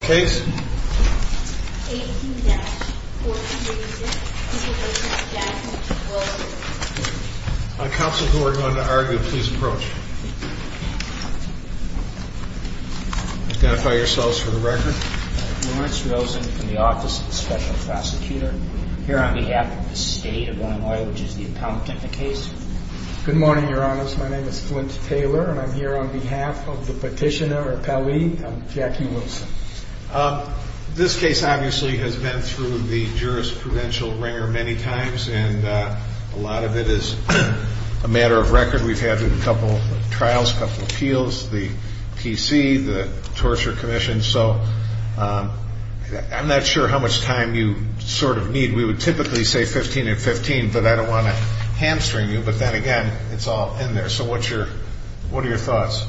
On behalf of the State of Illinois, which is the appellant in the case, I am here on behalf of the petitioner or appellee, I'm Jackie Wilson. This case obviously has been through the jurisprudential ringer many times, and a lot of it is a matter of record. We've had a couple of trials, a couple of appeals, the PC, the Torture Commission, so I'm not sure how much time you sort of need. We would typically say 15 and 15, but I don't want to hamstring you, but then again, it's all in there. So what's your, what are your thoughts?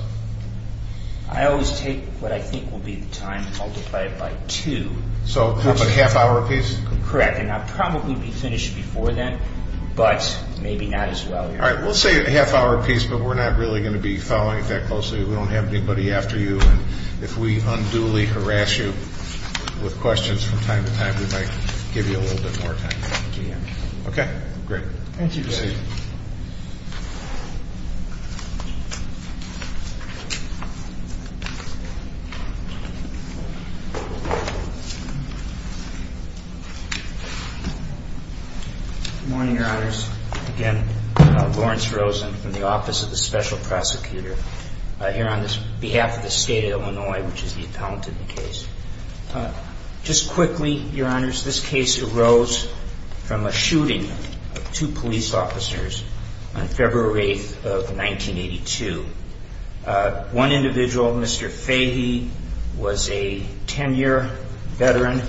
I always take what I think will be the time and multiply it by two. So half an hour a piece? Correct, and I'd probably be finished before then, but maybe not as well. All right, we'll say a half hour a piece, but we're not really going to be following it that closely. We don't have anybody after you, and if we unduly harass you with questions from time to time, we might give you a little bit more time. Okay, great. Thank you, Judge. Good morning, Your Honors. Again, Lawrence Rosen from the Office of the Special Prosecutor here on behalf of the State of Illinois, which is the appellant in the case. Just quickly, Your Honors, this case arose from a shooting of two police officers on February 8th of 1982. One individual, Mr. Fahey, was a ten-year veteran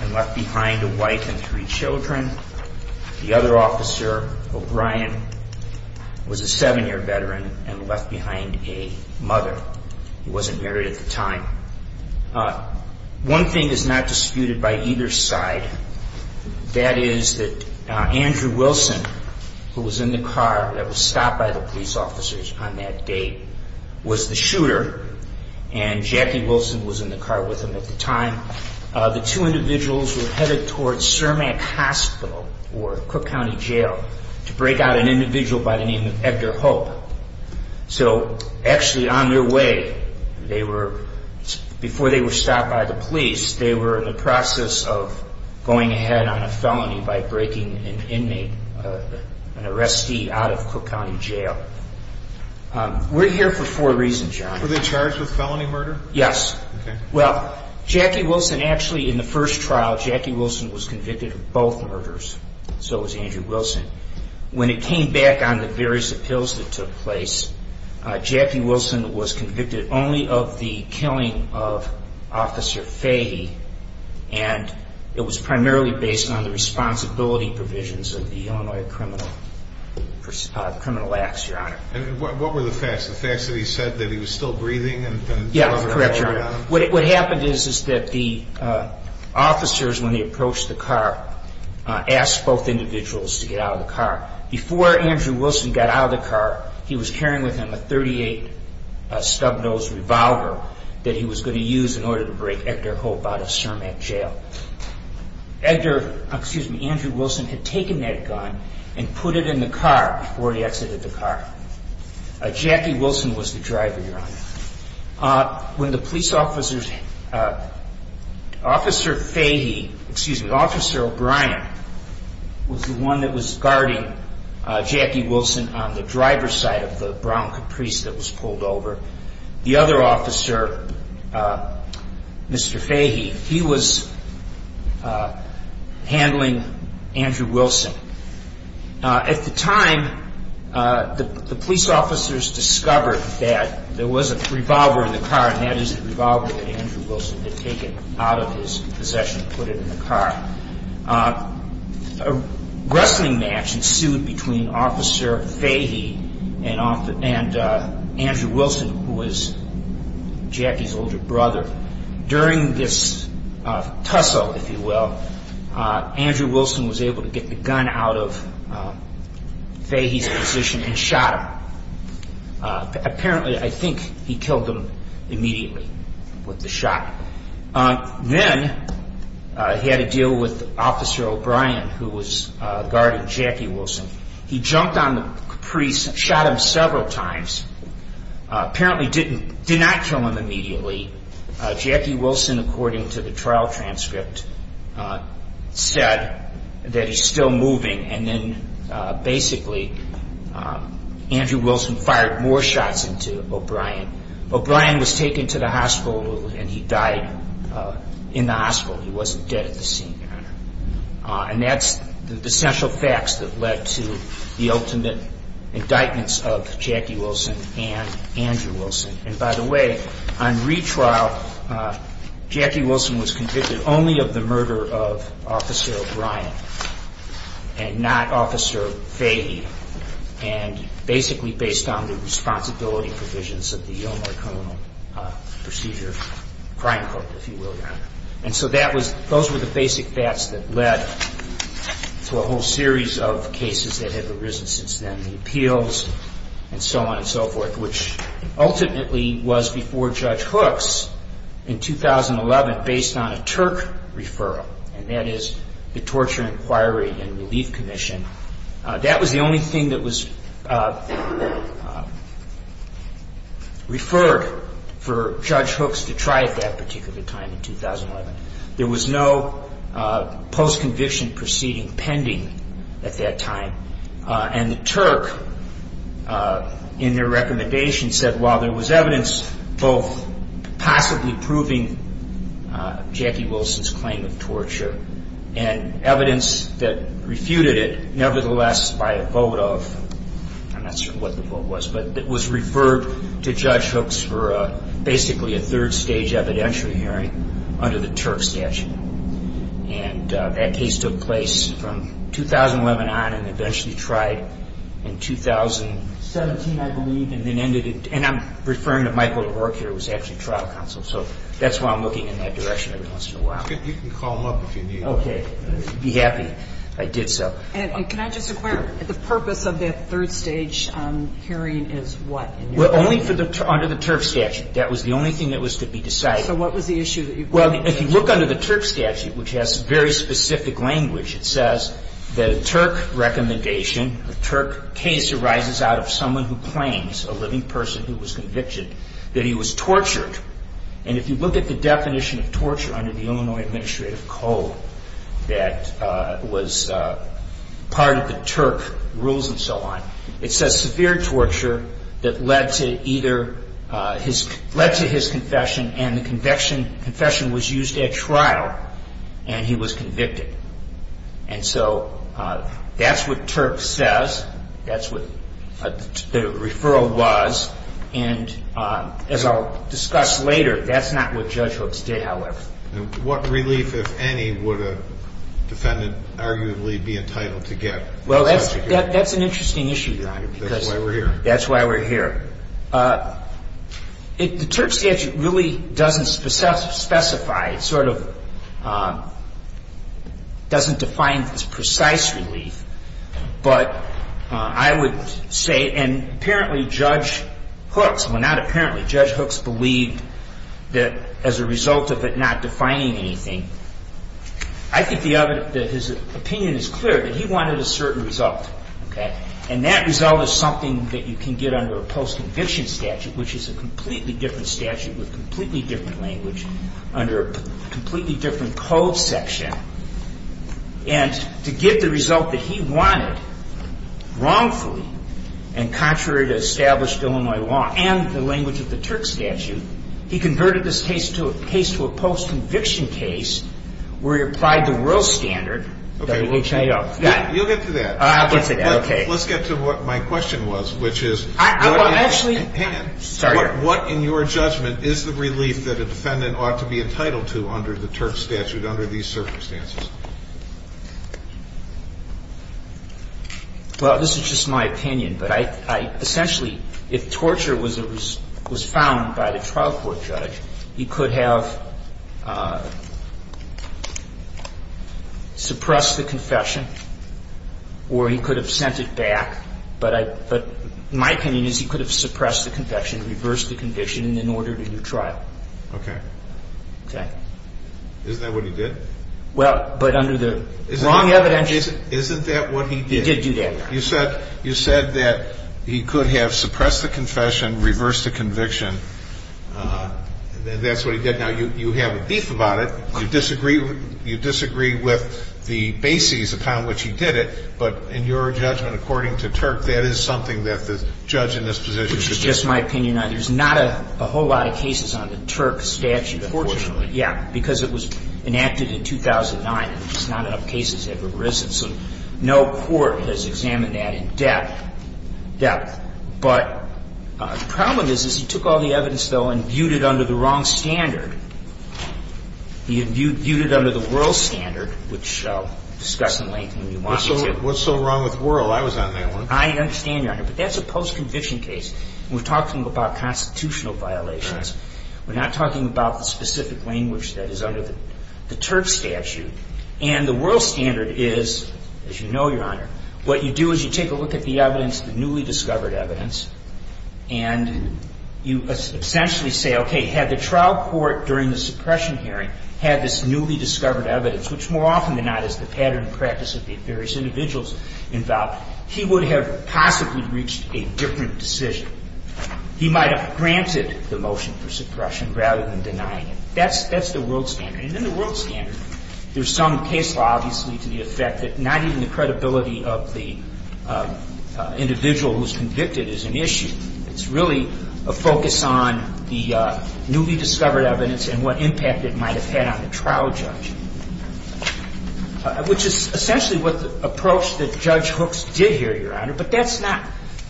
and left behind a wife and three children. The other officer, O'Brien, was a seven-year veteran and left behind a mother. He wasn't not disputed by either side. That is that Andrew Wilson, who was in the car that was stopped by the police officers on that date, was the shooter, and Jackie Wilson was in the car with him at the time. The two individuals were headed towards Cermak Hospital or Cook County Jail to break out an individual by the name of Edgar Hope. So actually on their way, before they were stopped by the police, they were in the process of going ahead on a felony by breaking an inmate, an arrestee, out of Cook County Jail. We're here for four reasons, Your Honors. Were they charged with felony murder? Yes. Okay. Well, Jackie Wilson actually, in the first trial, Jackie Wilson was convicted of both murders. So was Andrew Wilson. When it came back on the various appeals that took place, Jackie Wilson was convicted only of the killing of Officer Fahey, and it was primarily based on the responsibility provisions of the Illinois Criminal Acts, Your Honor. And what were the facts? The facts that he said that he was still breathing and Yeah, that's correct, Your Honor. What happened is that the officers, when they approached the car, asked both individuals to get out of the car. Before Andrew Wilson got out of the car, they brought with them a .38 stub nose revolver that he was going to use in order to break Edgar Hope out of Cermak Jail. Andrew Wilson had taken that gun and put it in the car before he exited the car. Jackie Wilson was the driver, Your Honor. When the police officers, Officer Fahey, excuse me, Officer O'Brien was the one that was pulled over. The other officer, Mr. Fahey, he was handling Andrew Wilson. At the time, the police officers discovered that there was a revolver in the car, and that is the revolver that Andrew Wilson had taken out of his possession and put it in the car. A wrestling match ensued between Officer Fahey and Andrew Wilson, who was Jackie's older brother. During this tussle, if you will, Andrew Wilson was able to get the gun out of Fahey's possession and shot him. Apparently, I think he killed him immediately with the Officer O'Brien, who was guarding Jackie Wilson. He jumped on the Caprice and shot him several times. Apparently, he did not kill him immediately. Jackie Wilson, according to the trial transcript, said that he's still moving, and then basically, Andrew Wilson fired more shots into O'Brien. O'Brien was taken to the hospital and he died in the hospital. He wasn't dead at the scene. And that's the essential facts that led to the ultimate indictments of Jackie Wilson and Andrew Wilson. And by the way, on retrial, Jackie Wilson was convicted only of the murder of Officer O'Brien and not Officer Fahey, and basically based on the responsibility provisions of the Elmore Criminal Procedure crime court, if you will. And so that was those were the basic facts that led to a whole series of cases that have arisen since then. The appeals and so on and so forth, which ultimately was before Judge Hooks in 2011 based on a Turk referral, and that is the Torture Inquiry and Relief Commission. That was the only thing that was referred for Judge Hooks to try at that particular time in 2011. There was no post-conviction proceeding pending at that time, and the Turk, in their recommendation, said while there was evidence both possibly proving Jackie Wilson's claim of torture, and evidence that refuted it, nevertheless by a vote of, I'm not sure what the vote was, but it was referred to Judge Hooks for basically a third stage evidentiary hearing under the Turk statute. And that case took place from 2011 on and eventually tried in 2017, I believe, and then ended in, and I'm referring to Michael DeVorkier, who was actually trial counsel, so that's why I'm looking in that direction every once in a while. You can call him up if you need him. Okay. I'd be happy if I did so. And can I just inquire, the purpose of that third stage hearing is what? Well, only under the Turk statute. That was the only thing that was to be decided. So what was the issue that you brought up? Well, if you look under the Turk statute, which has very specific language, it says that a Turk recommendation, a Turk case arises out of someone who claims, a living person who was convicted, that he was tortured. And if you look at the definition of torture under the Illinois Administrative Code that was part of the Turk rules and so on, it says severe torture that led to either, led to his confession and the confession was used at trial and he was convicted. And so that's what Turk says, that's what the referral was, and as I'll discuss later, that's not what Judge Hooks did, however. What relief, if any, would a defendant arguably be entitled to get? Well, that's an interesting issue, John. That's why we're here. That's why we're here. The Turk statute really doesn't specify, it sort of doesn't define its precise relief, but I would say, and apparently Judge Hooks, well not apparently, Judge Hooks believed that as a result of it not defining anything, I think that his opinion is clear that he wanted a certain result. And that result is something that you can get under a post-conviction statute, which is a completely different statute with completely different language, under a completely different code section, and to get the result that he wanted wrongfully and contrary to established Illinois law and the language of the Turk statute, he converted this case to a post-conviction case where he applied the world standard. You'll get to that. I'll get to that. Let's get to what my question was, which is what in your judgment is the relief that a defendant ought to be entitled to under the Turk statute under these circumstances? Well, this is just my opinion. But I essentially, if torture was found by the trial court judge, he could have suppressed the confession or he could have sent it back, but my opinion is he could have suppressed the conviction, reversed the conviction, and then ordered a new trial. Okay. Okay. Isn't that what he did? Well, but under the wrong evidence. Isn't that what he did? He did do that. You said that he could have suppressed the confession, reversed the conviction, and that's what he did. Now, you have a beef about it. You disagree with the bases upon which he did it, but in your judgment, according to Turk, that is something that the judge in this position could do. It's just my opinion. There's not a whole lot of cases on the Turk statute, unfortunately. Unfortunately. Yeah, because it was enacted in 2009 and just not enough cases have arisen, so no court has examined that in depth. But the problem is he took all the evidence, though, and viewed it under the wrong standard. He viewed it under the Wuerl standard, which we'll discuss in length when we want to. What's so wrong with Wuerl? I was on that one. I understand, Your Honor. But that's a post-conviction case. We're talking about constitutional violations. We're not talking about the specific language that is under the Turk statute. And the Wuerl standard is, as you know, Your Honor, what you do is you take a look at the evidence, the newly discovered evidence, and you essentially say, okay, had the trial court during the suppression hearing had this newly discovered evidence, which more often than not is the pattern and practice of the various individuals involved, he would have possibly reached a different decision. He might have granted the motion for suppression rather than denying it. That's the Wuerl standard. And in the Wuerl standard, there's some case law obviously to the effect that not even the credibility of the individual who's convicted is an issue. It's really a focus on the newly discovered evidence and what impact it might have had on the trial judge, which is essentially what the approach that Judge Hooks did here, Your Honor. But that's not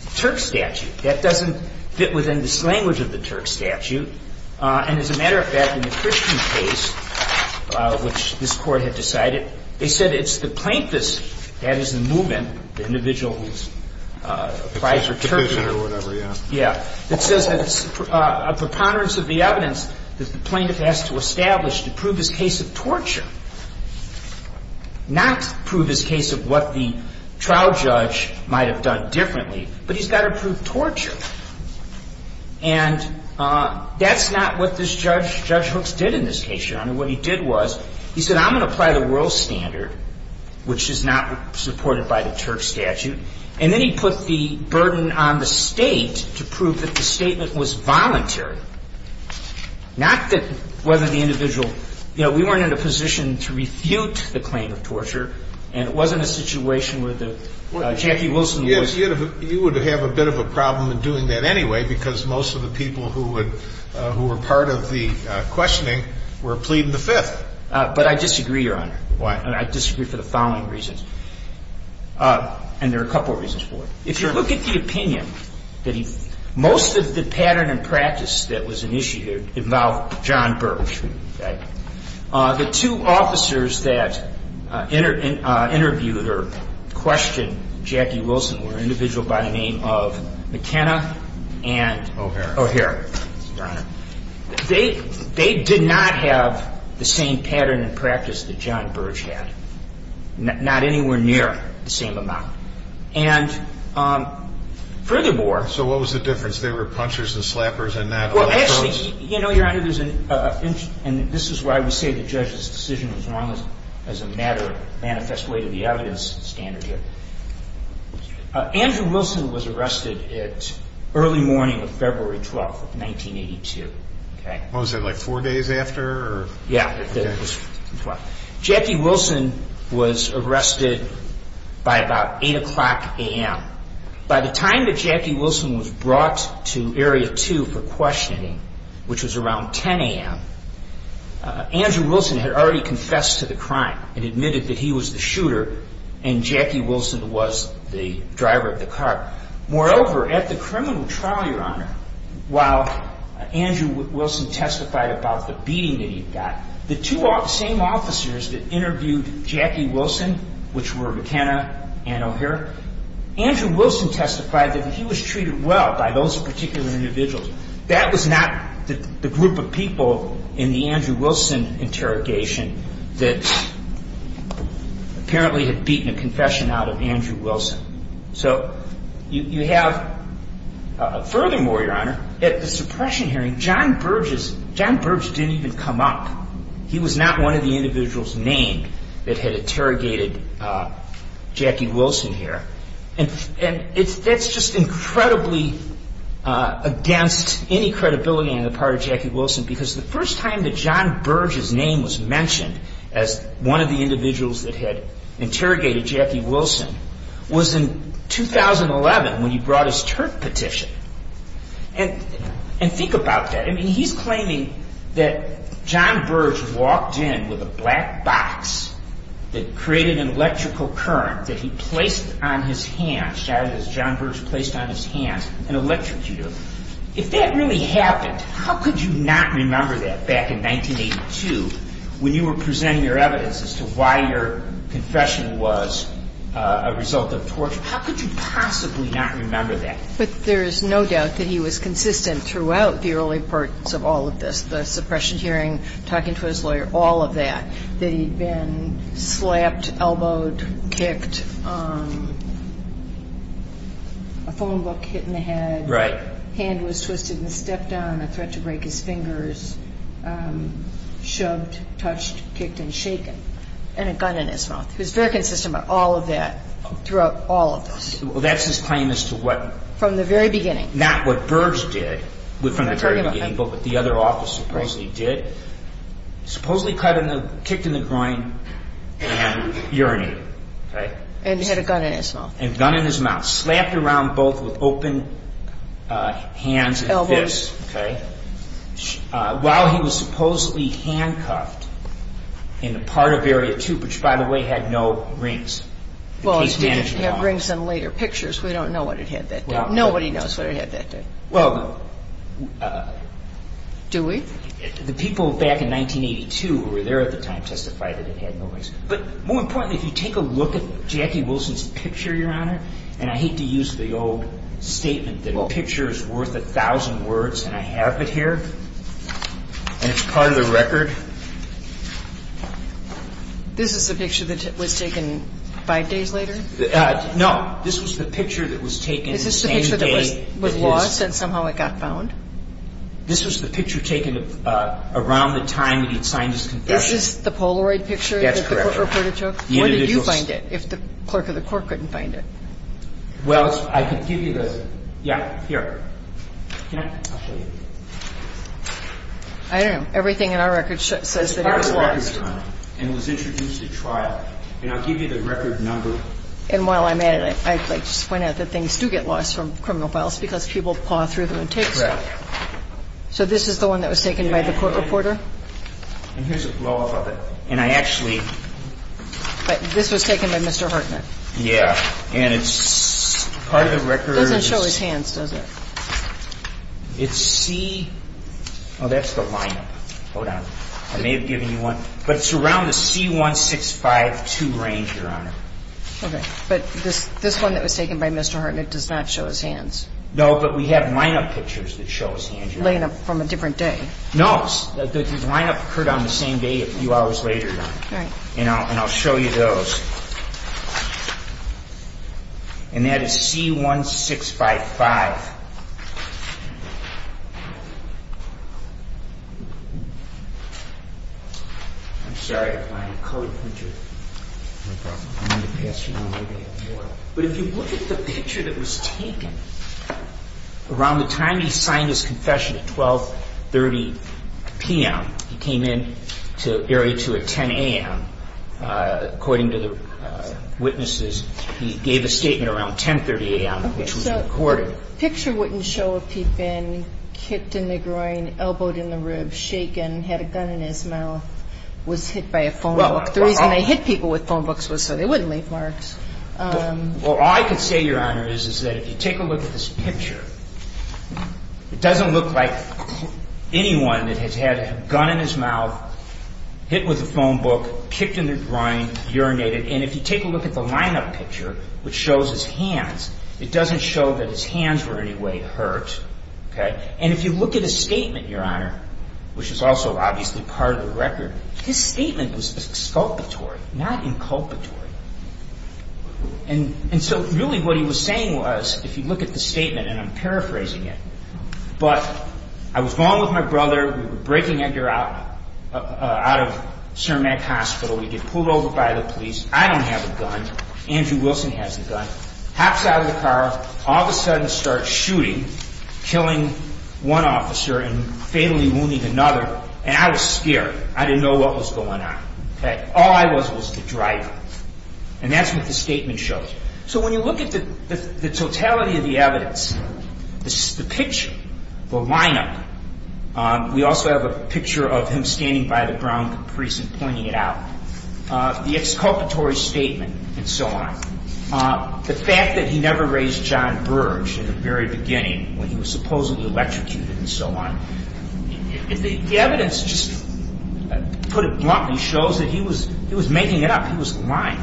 the Turk statute. That doesn't fit within this language of the Turk statute. And as a matter of fact, in the Christian case, which this court had decided, they said it's the plaintiff's, that is the movement, the individual who's applied for Turkish or whatever, yeah, that says that it's a preponderance of the evidence that the plaintiff has to establish to prove his case of torture not prove his case of what the trial judge might have done differently, but he's got to prove torture. And that's not what this judge, Judge Hooks, did in this case, Your Honor. What he did was he said, I'm going to apply the Wuerl standard, which is not supported by the Turk statute. And then he put the burden on the state to prove that the statement was voluntary. Not that whether the individual, you know, we weren't in a position to refute the claim of torture and it wasn't a situation where Jackie Wilson was. You would have a bit of a problem in doing that anyway because most of the people who were part of the questioning were pleading the Fifth. But I disagree, Your Honor. Why? I disagree for the following reasons. And there are a couple of reasons for it. If you look at the opinion that he, most of the pattern and practice that was initiated involved John Burge. The two officers that interviewed or questioned Jackie Wilson were an individual by the name of McKenna and O'Hara. They did not have the same pattern and practice that John Burge had. Not anywhere near the same amount. And furthermore... So what was the difference? They were punchers and slappers and not... Well, actually, you know, Your Honor, and this is why we say the judge's decision was wrong as a matter of manifest way to the evidence standard here. Andrew Wilson was arrested at early morning of February 12th of 1982. Oh, was it like four days after? Yeah. Jackie Wilson was arrested by about 8 o'clock a.m. By the time that Jackie Wilson was brought to Area 2 for questioning, which was around 10 a.m., Andrew Wilson had already confessed to the crime and admitted that he was the shooter and Jackie Wilson was the driver of the car. Moreover, at the criminal trial, Your Honor, while Andrew Wilson testified about the beating that he'd got, the same officers that interviewed Jackie Wilson, which were McKenna and O'Hara, Andrew Wilson testified that he was treated well by those particular individuals. That was not the group of people in the Andrew Wilson interrogation that apparently had beaten a confession out of Andrew Wilson. So you have... Furthermore, Your Honor, at the suppression hearing, John Burge didn't even come up. He was not one of the individuals named that had interrogated Jackie Wilson here. And that's just incredibly against any credibility on the part of Jackie Wilson because the first time that John Burge's name was mentioned as one of the individuals that had interrogated Jackie Wilson was in 2011 when he brought his TURP petition. And think about that. I mean, he's claiming that John Burge walked in with a black box that created an electrical current that he placed on his hands, as John Burge placed on his hands, an electrocutor. If that really happened, how could you not remember that back in 1982 when you were presenting your evidence as to why your confession was a result of torture? How could you possibly not remember that? But there's no doubt that he was consistent throughout the early parts of all of this, the suppression hearing, talking to his lawyer, all of that, that he'd been slapped, elbowed, kicked, a phone book hit in the head, hand was twisted and stepped on, a threat to break his fingers, shoved, touched, kicked, and shaken, and a gun in his mouth. He was very consistent about all of that, throughout all of this. That's his claim as to what... From the very beginning. Not what Burge did from the very beginning, but what the other officer supposedly did. Supposedly kicked in the groin and urinated. And had a gun in his mouth. And gun in his mouth. Slapped around both with open hands and fists. While he was supposedly handcuffed in a part of Area 2, which, by the way, had no rings. Well, it brings in later pictures. We don't know what it had that day. Nobody knows what it had that day. Well... Do we? The people back in 1982, who were there at the time, testified that it had no rings. But more importantly, if you take a look at Jackie Wilson's picture, Your Honor, and I hate to use the old statement that a picture is worth a thousand words, and I have it here, and it's part of the record. This is the picture that was taken five days later? No. This was the picture that was taken the same day... Is this the picture that was lost and somehow it got found? This was the picture taken around the time that he'd signed his confession. Is this the Polaroid picture that the court reported to? That's correct. Where did you find it, if the clerk of the court couldn't find it? Well, I could give you the... Yeah, here. Can I? I'll show you. I don't know. Everything in our record says that it was lost. It's part of the record, Your Honor, and it was introduced at trial. And I'll give you the record number. And while I'm at it, I'd like to point out that things do get lost from criminal files because people paw through them and take stuff. Correct. So this is the one that was taken by the court reporter? And here's a blow-up of it. And I actually... But this was taken by Mr. Hartnett? Yeah. And it's part of the record... It doesn't show his hands, does it? It's C... Oh, that's the line-up. Hold on. I may have given you one. But it's around the C-1652 range, Your Honor. Okay. But this one that was taken by Mr. Hartnett does not show his hands? No, but we have line-up pictures that show his hands, Your Honor. Laying up from a different day? No. The line-up occurred on the same day a few hours later, Your Honor. Right. And I'll show you those. And that is C-1655. I'm sorry if my colored printer... No problem. I'm going to pass you another one. But if you look at the picture that was taken, around the time he signed his confession at 12.30 p.m., he came in to Area 2 at 10 a.m., according to the witnesses, he gave a statement around 10.30 a.m., which was recorded. Okay. So the picture wouldn't show if he'd been kicked in the groin, elbowed in the ribs, shaken, had a gun in his mouth, was hit by a phone book. The reason they hit people with phone books was so they wouldn't leave marks. Well, all I can say, Your Honor, is that if you take a look at this picture, it doesn't look like anyone that has had a gun in his mouth, hit with a phone book, kicked in the groin, urinated. And if you take a look at the line-up picture, which shows his hands, it doesn't show that his hands were in any way hurt. Okay. And if you look at his statement, Your Honor, which is also obviously part of the record, his statement was exculpatory, not inculpatory. And so really what he was saying was, if you look at the statement, and I'm paraphrasing it, but I was going with my brother, we were breaking Edgar out, out of Cermak Hospital, we get pulled over by the police, I don't have a gun, Andrew Wilson has a gun, hops out of the car, all of a sudden starts shooting, killing one officer and fatally wounding another, and I was scared. I didn't know what was going on. All I was was the driver. And that's what the statement shows. So when you look at the totality of the evidence, the picture, the line-up, we also have a picture of him standing by the brown caprice and pointing it out, the exculpatory statement, and so on. The fact that he never raised John Burge at the very beginning, when he was supposedly electrocuted and so on, the evidence just, to put it bluntly, shows that he was making it up. He was lying.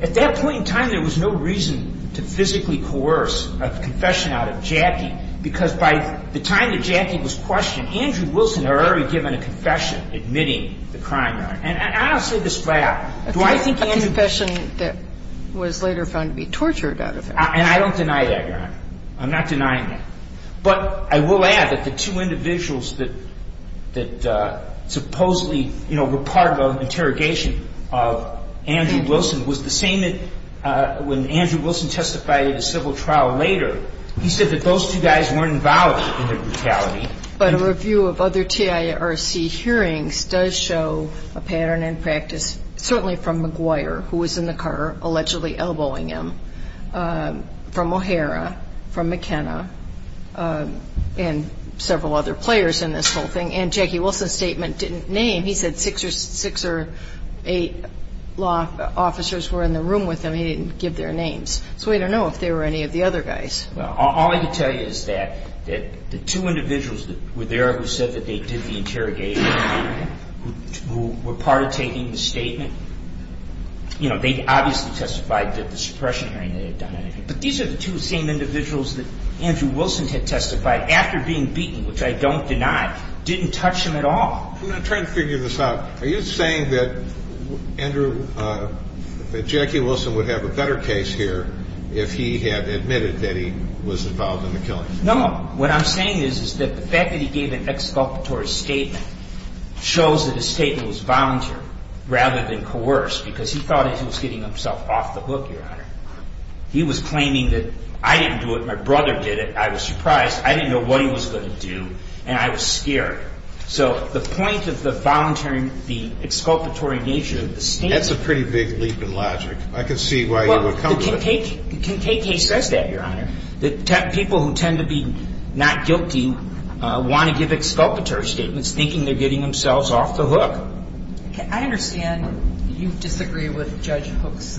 At that point in time, there was no reason to physically coerce a confession out of Jackie, because by the time that Jackie was questioned, Andrew Wilson had already given a confession, admitting the crime. And I don't say this flat. A confession that was later found to be tortured out of him. And I don't deny that, Your Honor. I'm not denying that. But I will add that the two individuals that supposedly were part of an interrogation of Andrew Wilson was the same that when Andrew Wilson testified at a civil trial later. He said that those two guys weren't involved in the brutality. But a review of other TIRC hearings does show a pattern in practice, certainly from McGuire, who was in the car, allegedly elbowing him, from O'Hara, from McKenna, and several other players in this whole thing. And Jackie Wilson's statement didn't name. He said six or eight law officers were in the room with him. He didn't give their names. So we don't know if they were any of the other guys. All I can tell you is that the two individuals that were there who said that they did the interrogation who were part of taking the statement, you know, they obviously testified that the suppression hearing they had done. But these are the two same individuals that Andrew Wilson had testified after being beaten, which I don't deny, didn't touch him at all. I'm trying to figure this out. Are you saying that Andrew, that Jackie Wilson would have a better case here if he had admitted that he was involved in the killing? No. What I'm saying is that the fact that he gave an exculpatory statement shows that his statement was voluntary rather than coerced, because he thought he was getting himself off the hook, Your Honor. He was claiming that I didn't do it, my brother did it, I was surprised, I didn't know what he was going to do, and I was scared. So the point of the voluntary, the exculpatory nature of the statement... That's a pretty big leap in logic. I can see why you would come to it. KK says that, Your Honor, that people who tend to be not guilty want to give exculpatory statements thinking they're getting themselves off the hook. I understand you disagree with Judge Hook's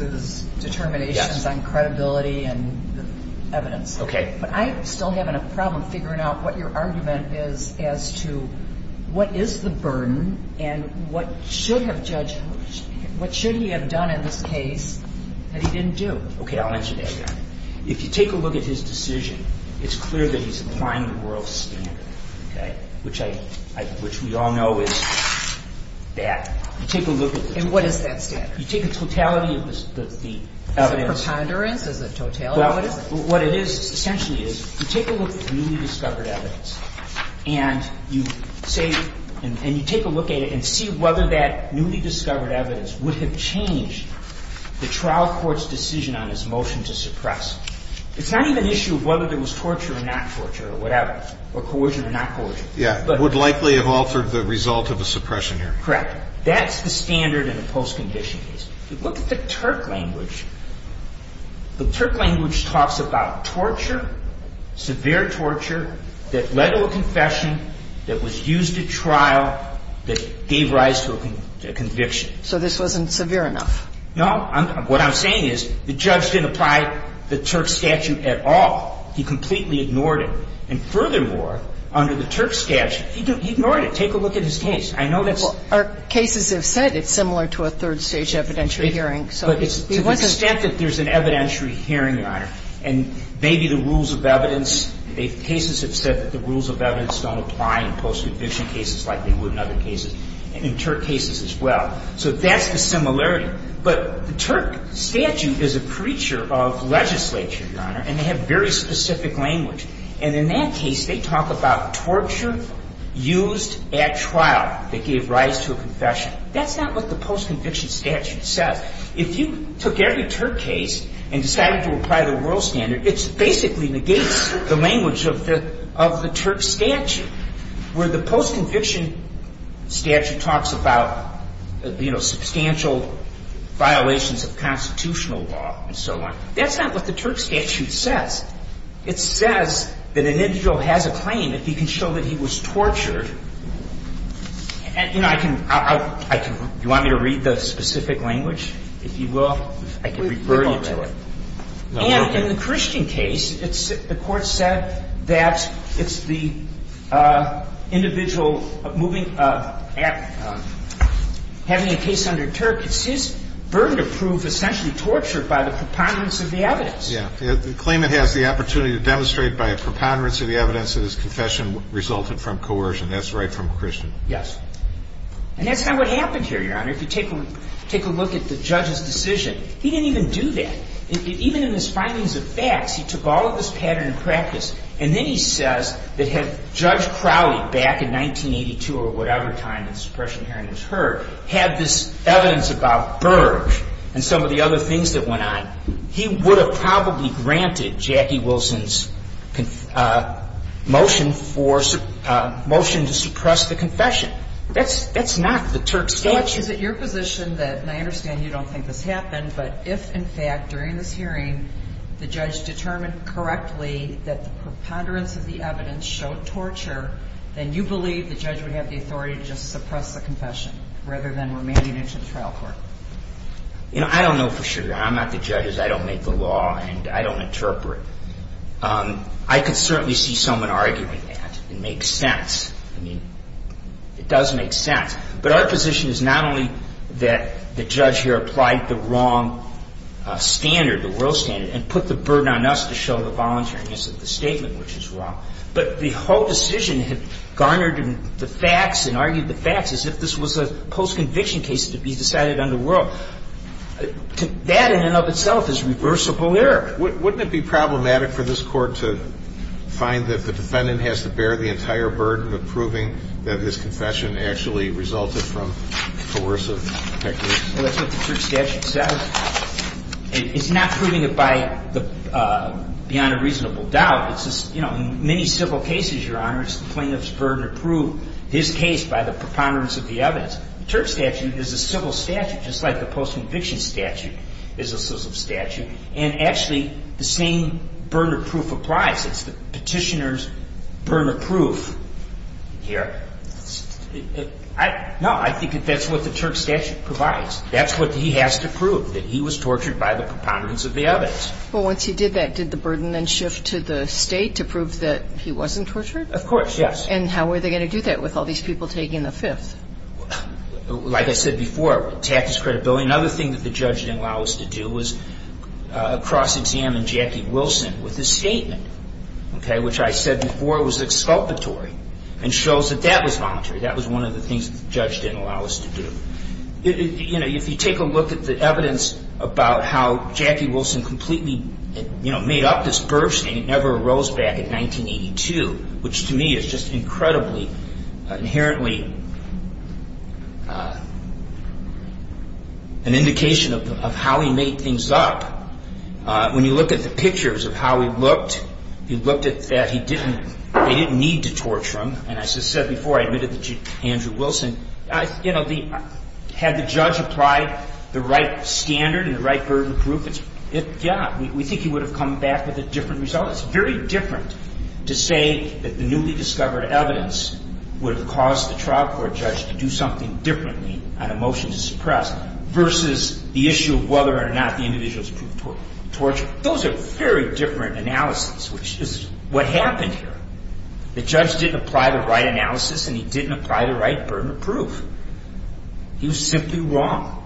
determinations on credibility and evidence. But I'm still having a problem figuring out what your argument is as to what is the burden and what should have Judge Hook, what should he have done in this case that he didn't do? Okay, I'll answer that, Your Honor. If you take a look at his decision, it's clear that he's applying the world standard. Which we all know is bad. And what is that standard? You take the totality of the evidence... Is it preponderance? What it is, essentially, is you take a look at the newly discovered evidence and you take a look at it and see whether that newly discovered evidence would have changed the trial court's decision on his motion to suppress. It's not even an issue of whether there was torture or not torture or coercion or not coercion. Yeah, it would likely have altered the result of a suppression here. Correct. That's the standard in a post-conviction case. If you look at the Turk language, the Turk language talks about torture, severe torture that led to a confession that was used at trial that gave rise to a conviction. So this wasn't severe enough? No. What I'm saying is the judge didn't apply the Turk statute at all. He completely ignored it. And furthermore, under the Turk statute, he ignored it. Take a look at his case. I know that's... Well, our cases have said it's similar to a third-stage evidentiary hearing. But it's to the extent that there's an evidentiary hearing, Your Honor, and maybe the rules of evidence cases have said that the rules of evidence don't apply in post-conviction cases like they would in other cases and in Turk cases as well. So that's the similarity. But the Turk statute is a preacher of the legislature, Your Honor, and they have very specific language. And in that case, they talk about torture used at trial that gave rise to a confession. That's not what the post-conviction statute says. If you took every Turk case and decided to apply the world standard, it basically negates the language of the Turk statute, where the post-conviction statute talks about substantial violations of And that's not what the Turk statute says. It says that an individual has a claim if he can show that he was tortured. And, you know, I can I can... Do you want me to read the specific language, if you will? I can refer you to it. And in the Christian case, the Court said that it's the individual moving having a case under Turk, it's his burden to prove essentially tortured by the preponderance of the evidence. The claimant has the opportunity to demonstrate by a preponderance of the evidence that his confession resulted from coercion. That's right from Christian. Yes. And that's not what happened here, Your Honor. If you take a look at the judge's decision, he didn't even do that. Even in his findings of facts, he took all of this pattern of practice, and then he says that had Judge Crowley back in 1982 or whatever time the suppression hearing was heard, had this evidence about Berg and some of the other things that went on, he would have probably granted Jackie Wilson's motion for motion to suppress the confession. That's not the Turk's case. Judge, is it your position that and I understand you don't think this happened, but if in fact during this hearing the judge determined correctly that the preponderance of the evidence showed torture, then you believe the judge would have the authority to just suppress the confession rather than remanding it to the trial court? I don't know for sure, Your Honor. I'm not the judge. I don't make the law, and I don't interpret. I could certainly see someone arguing that. It makes sense. I mean, it does make sense. But our position is not only that the judge here applied the wrong standard, the world standard, and put the burden on us to show the voluntariness of the statement, which is wrong, but the whole decision had garnered the facts and argued the facts as if this was a post-conviction case to be decided on the world. That in and of itself is reversible error. Wouldn't it be problematic for this Court to find that the defendant has to bear the entire burden of proving that his confession actually resulted from coercive techniques? Well, that's what the Turk statute says. It's not proving it by beyond a reasonable doubt. In many civil cases, Your Honor, it's the plaintiff's burden to prove his case by the preponderance of the evidence. The Turk statute is a civil statute, just like the post-conviction statute is a civil statute. And actually, the same burden of proof applies. It's the petitioner's burden of proof here. No, I think that that's what the Turk statute provides. That's what he has to prove, that he was the perpetrator. Well, once he did that, did the burden then shift to the State to prove that he wasn't tortured? Of course, yes. And how were they going to do that with all these people taking the Fifth? Like I said before, tactics, credibility. Another thing that the judge didn't allow us to do was cross-examine Jackie Wilson with his statement, okay, which I said before was exculpatory and shows that that was voluntary. That was one of the things that the judge didn't allow us to do. You know, if you take a look at the evidence about how Jackie Wilson completely made up this burst, and it never arose back in 1982, which to me is just incredibly inherently an indication of how he made things up. When you look at the pictures of how he looked, you look at that he didn't need to torture him. And as I said before, I admitted that Andrew Wilson, you know, had the judge applied the right standard and the right burden of proof, yeah, we think he would have come back with a different result. It's very different to say that the newly discovered evidence would have caused the trial court judge to do something differently on a motion to suppress versus the issue of whether or not the individuals proved tortured. Those are very different analyses, which is what happened here. The judge didn't apply the right analysis and he didn't apply the right burden of proof. He was simply wrong.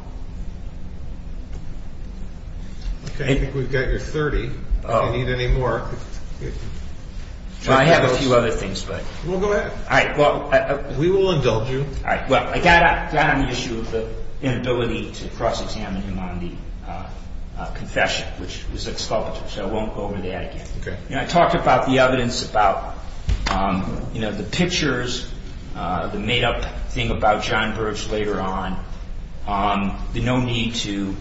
Okay, I think we've got your thirty if you need any more. Well, I have a few other things, but... Well, go ahead. We will indulge you. I got on the issue of the inability to cross-examine him on the confession, which was exculpatory, so I won't go over that again. I talked about the evidence about the pictures, the made-up thing about John Birch later on, the no need to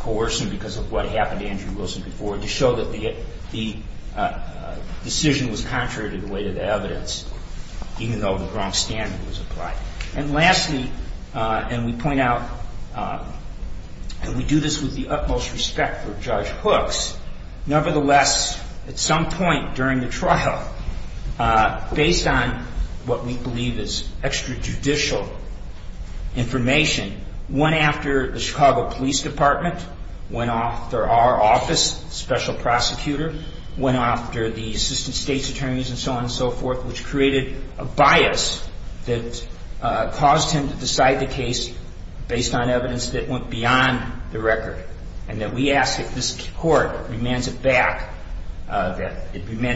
coerce him because of what happened to Andrew Wilson before to show that the decision was contrary to the weight of the evidence even though the wrong standard was applied. And lastly, and we point out and we do this with the utmost respect for Judge Hooks, nevertheless, at some point during the trial, based on what we believe is extrajudicial information, went after the Chicago Police Department, went after our office, special prosecutor, went after the assistant state's attorneys and so on and so forth, which created a bias that caused him to decide the case based on evidence that went beyond the record, and that we met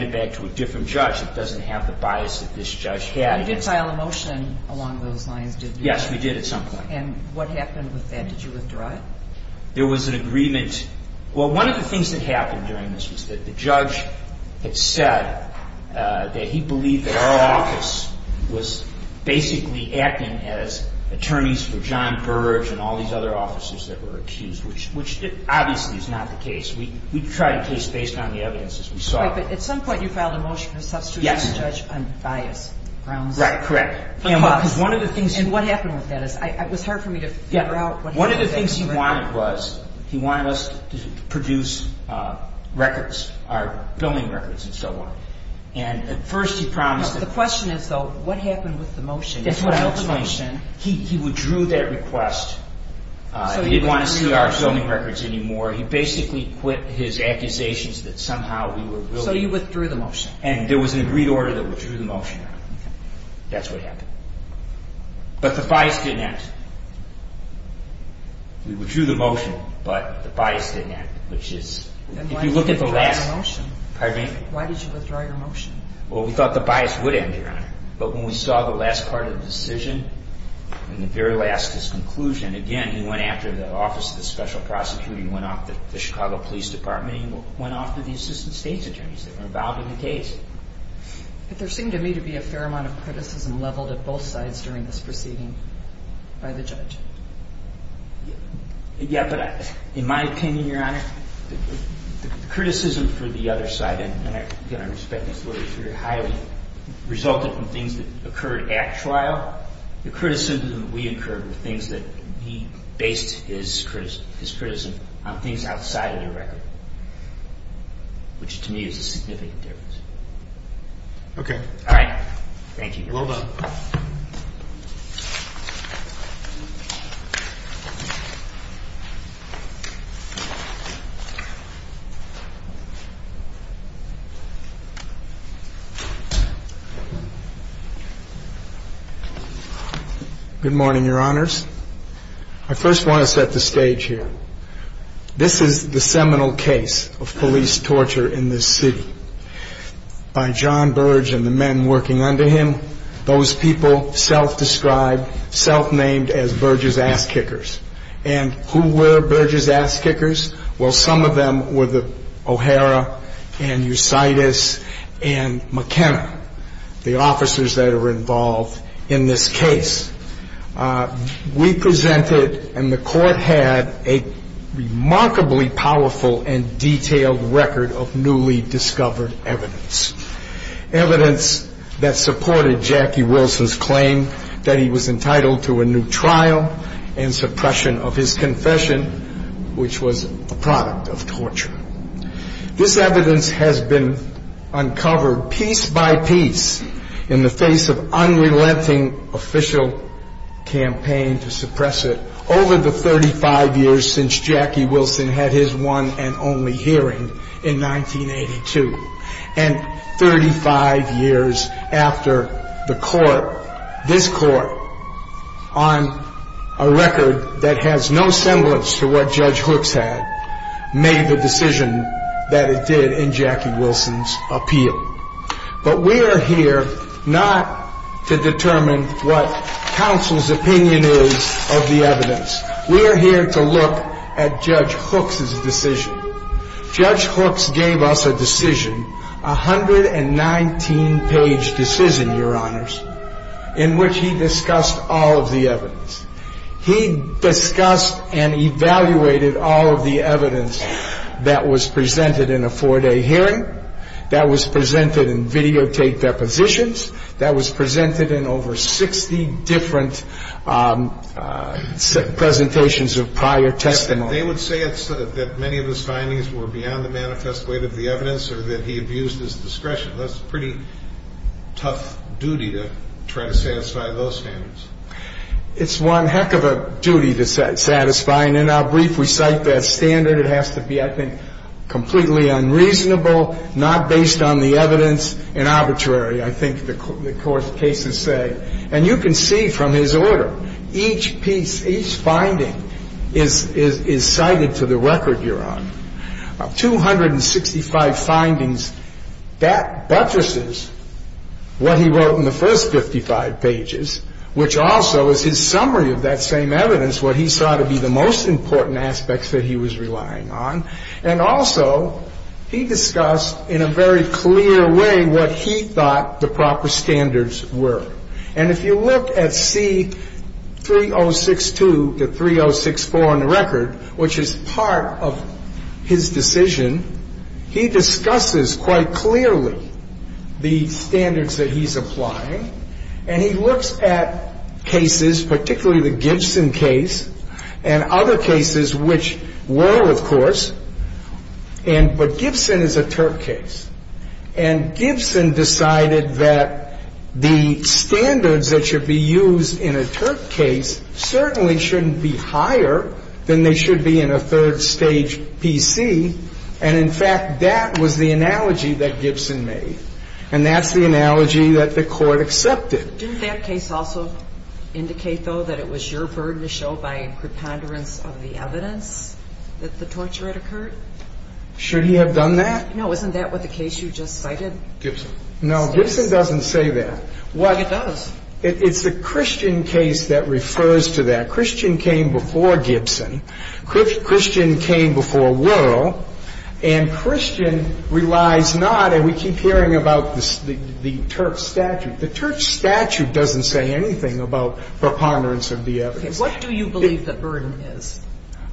it back to a different judge that doesn't have the bias that this judge had. You did file a motion along those lines, did you? Yes, we did at some point. And what happened with that? Did you withdraw it? There was an agreement. Well, one of the things that happened during this was that the judge had said that he believed that our office was basically acting as attorneys for John Birch and all these other officers that were accused, which obviously is not the case. We tried a case based on the evidence as we saw it. Right, but at some point you filed a motion to substitute the judge on bias grounds? Right, correct. And what happened with that? It was hard for me to figure out what happened. One of the things he wanted was he wanted us to produce records, billing records and so on. And at first he promised... The question is though, what happened with the motion? He withdrew that request. He didn't want to see our zoning records anymore. He basically quit his accusations that somehow we were really... So you withdrew the motion? And there was an agreed order that withdrew the motion. That's what happened. But the bias didn't act. We withdrew the motion, but the bias didn't act, which is... Then why did you withdraw your motion? Pardon me? Why did you withdraw your motion? Well, we thought the bias would end here, but when we saw the last part of the decision and the very last conclusion, again, he went after the Office of the Special Prosecutor. He went after the Chicago Police Department. He went after the Assistant State's Attorneys that were involved in the case. But there seemed to me to be a fair amount of criticism leveled at both sides during this proceeding by the judge. Yeah, but in my opinion, Your Honor, the criticism for the other side, and again, I respect this very highly, resulted from things that occurred at trial. The criticism that we incurred were things that he based his criticism on things outside of the record, which to me is a significant difference. Okay. All right. Thank you, Your Honor. Well done. Good morning, Your Honors. I first want to set the stage here. This is the seminal case of police torture in this city. By John Burge and the men working under him, those people self-described, self-named as Burge's ass-kickers. And who were Burge's ass-kickers? Well, some of them were the O'Hara and Eusitis and McKenna, the O'Hara and Eusitis. Now, in this case, we presented, and the Court had, a remarkably powerful and detailed record of newly discovered evidence. Evidence that supported Jackie Wilson's claim that he was entitled to a new trial and suppression of his confession, which was a product of torture. This evidence has been an official campaign to suppress it over the 35 years since Jackie Wilson had his one and only hearing in 1982. And 35 years after the Court, this Court, on a record that has no semblance to what Judge Hooks had, made the decision that it did in Jackie Wilson's appeal. But we are here not to determine what counsel's opinion is of the evidence. We are here to look at Judge Hooks' decision. Judge Hooks gave us a decision, a 119 page decision, Your Honors, in which he discussed all of the evidence. He discussed and evaluated all of the evidence that was presented in a four day hearing, that was that was presented in over 60 different presentations of prior testimony. They would say that many of his findings were beyond the manifest weight of the evidence or that he abused his discretion. That's a pretty tough duty to try to satisfy those standards. It's one heck of a duty to satisfy. And in our brief, we cite that standard. It has to be, I think, completely unreasonable, not based on the evidence in arbitrary, I think the court's cases say. And you can see from his order, each piece, each finding is cited to the record, Your Honor. Of 265 findings, that buttresses what he wrote in the first 55 pages, which also is his summary of that same evidence, what he saw to be the most important aspects that he was relying on. And also, he discussed in a very clear way what he thought the proper standards were. And if you look at C 3062 to 3064 on the record, which is part of his decision, he discusses quite clearly the standards that he's applying, and he looks at cases, particularly the Gibson case, and other cases which were, of course, but Gibson is a Turk case. And Gibson decided that the standards that should be used in a Turk case certainly shouldn't be higher than they should be in a third-stage PC. And in fact, that was the analogy that Gibson made. And that's the analogy that the court accepted. Didn't that case also indicate, though, that it was your burden to show by a preponderance of the evidence that the torture had occurred? Should he have done that? No. Isn't that what the case you just cited? Gibson. No. Gibson doesn't say that. It does. It's the Christian case that refers to that. Christian came before Gibson. Christian came before Wuerl. And Christian relies not, and we keep hearing about the Turk statute. The Turk statute doesn't say anything about preponderance of the evidence. What do you believe the burden is?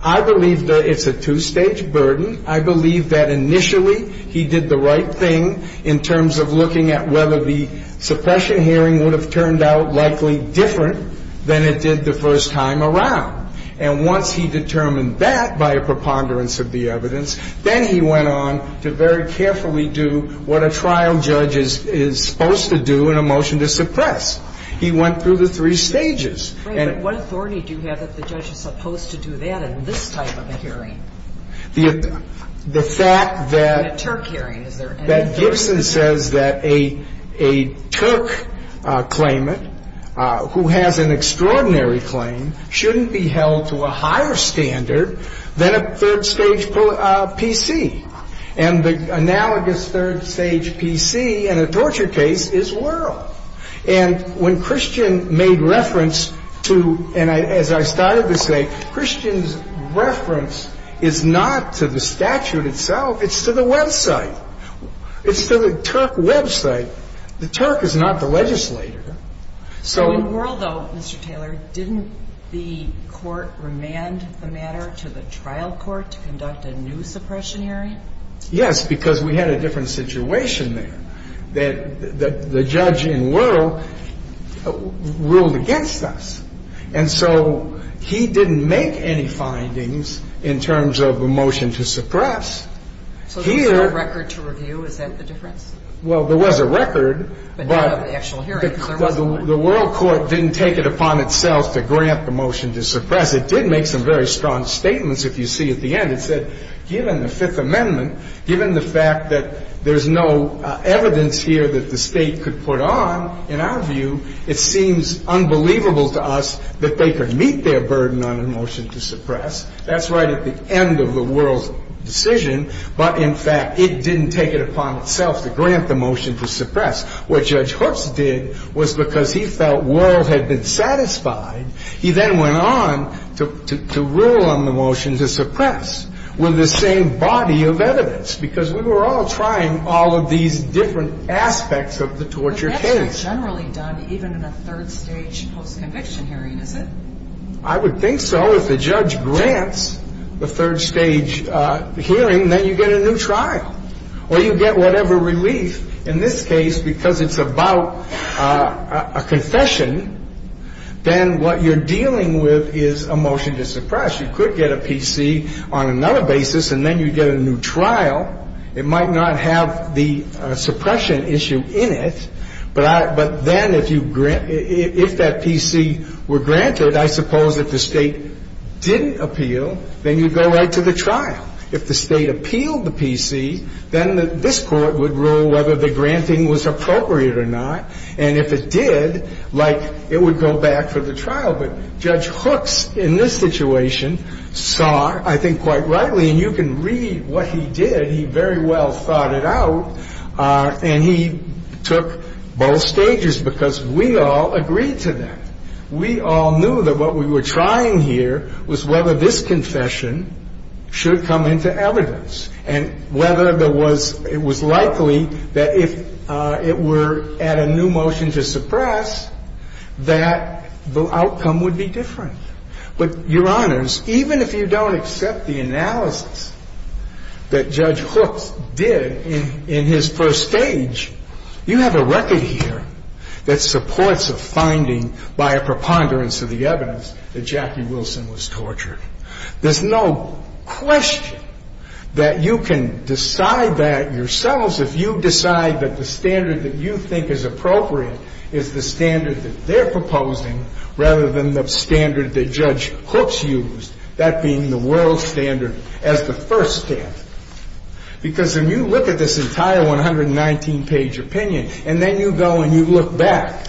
I believe that it's a two-stage burden. I believe that initially he did the right thing in terms of looking at whether the suppression hearing would have turned out likely different than it did the first time around. And once he determined that by a preponderance of the evidence, then he went on to very carefully do what a trial judge is supposed to do in a motion to suppress. He went through the three stages. What authority do you have that the judge is supposed to do that in this type of a hearing? The fact that in a Turk hearing, is there any authority? That Gibson says that a Turk claimant who has an extraordinary claim shouldn't be held to a higher standard than a third-stage PC. And the analogous third-stage PC in a torture case is Wuerl. And when Christian made reference to, and as I started to say, Christian's reference is not to the statute itself, it's to the website. It's to the Turk website. The Turk is not the legislator. So in Wuerl, though, Mr. Taylor, didn't the court remand the matter to the trial court to conduct a new suppression hearing? Yes, because we had a different situation there that the judge in Wuerl ruled against us. And so he didn't make any findings in terms of a motion to suppress. So there was no record to review? Is that the difference? Well, there was a record, but the Wuerl court didn't take it upon itself to grant the motion to suppress. It did make some very strong statements, if you see at the end. It said, given the Fifth Amendment, given the fact that there's no evidence here that the State could put on, in our view, it seems unbelievable to us that they could meet their burden on a motion to suppress. That's right at the end of the Wuerl's decision, but in fact, it didn't take it upon itself to grant the motion to suppress. What Judge Hooks did was because he felt Wuerl had been satisfied, he then went on to rule on the motion to suppress with the same body of evidence because we were all trying all of these different aspects of the torture case. But that's generally done even in a third-stage post-conviction hearing, is it? I would think so. If the judge grants the third-stage hearing, then you get a new trial or you get whatever relief. In this case, because it's about a confession, then what you're dealing with is a motion to suppress. You could get a PC on another basis and then you get a new trial. It might not have the suppression issue in it, but then if you grant if that PC were granted, I suppose if the State didn't appeal, then you go right to the trial. If the State appealed the PC, then this Court would rule whether the granting was appropriate or not. And if it did, like, it would go back for the trial. But Judge Sessions saw, I think quite rightly, and you can read what he did, he very well thought it out, and he took both stages because we all agreed to that. We all knew that what we were trying here was whether this confession should come into evidence and whether there was it was likely that if it were at a new motion to suppress, that the outcome would be different. But, Your Honors, even if you don't accept the analysis that Judge Hooks did in his first stage, you have a record here that supports a finding by a preponderance of the evidence that Jackie Wilson was tortured. There's no question that you can decide that yourselves if you decide that the standard that you think is appropriate is the standard that they're proposing rather than the standard that Judge Hooks used, that being the world standard as the first step. Because when you look at this entire 119 page opinion, and then you go and you look back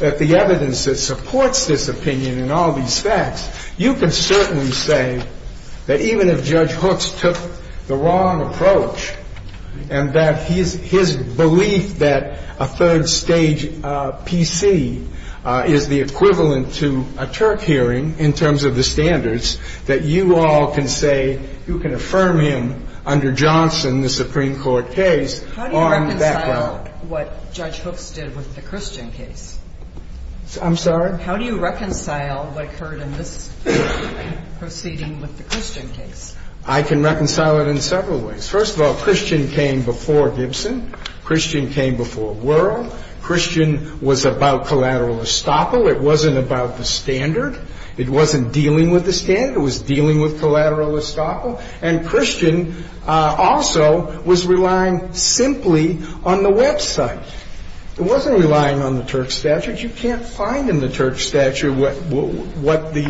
at the evidence that supports this opinion and all these facts, you can certainly say that even if Judge Hooks took the wrong approach and that his belief that a third stage PC is the equivalent to a Turk hearing in terms of the standards that you all can say you can affirm him under Johnson, the Supreme Court case, on that ground. How do you reconcile what Judge Hooks did with the Christian case? I'm sorry? How do you reconcile what occurred in this proceeding with the Christian case? I can reconcile it in several ways. First of all, Christian came before Gibson. Christian came before Wuerl. Christian was about collateral estoppel. It wasn't about the standard. It wasn't dealing with the standard. It was dealing with collateral estoppel. And Christian also was relying simply on the website. It wasn't relying on the Turk statute. You can't find in the Turk statute what the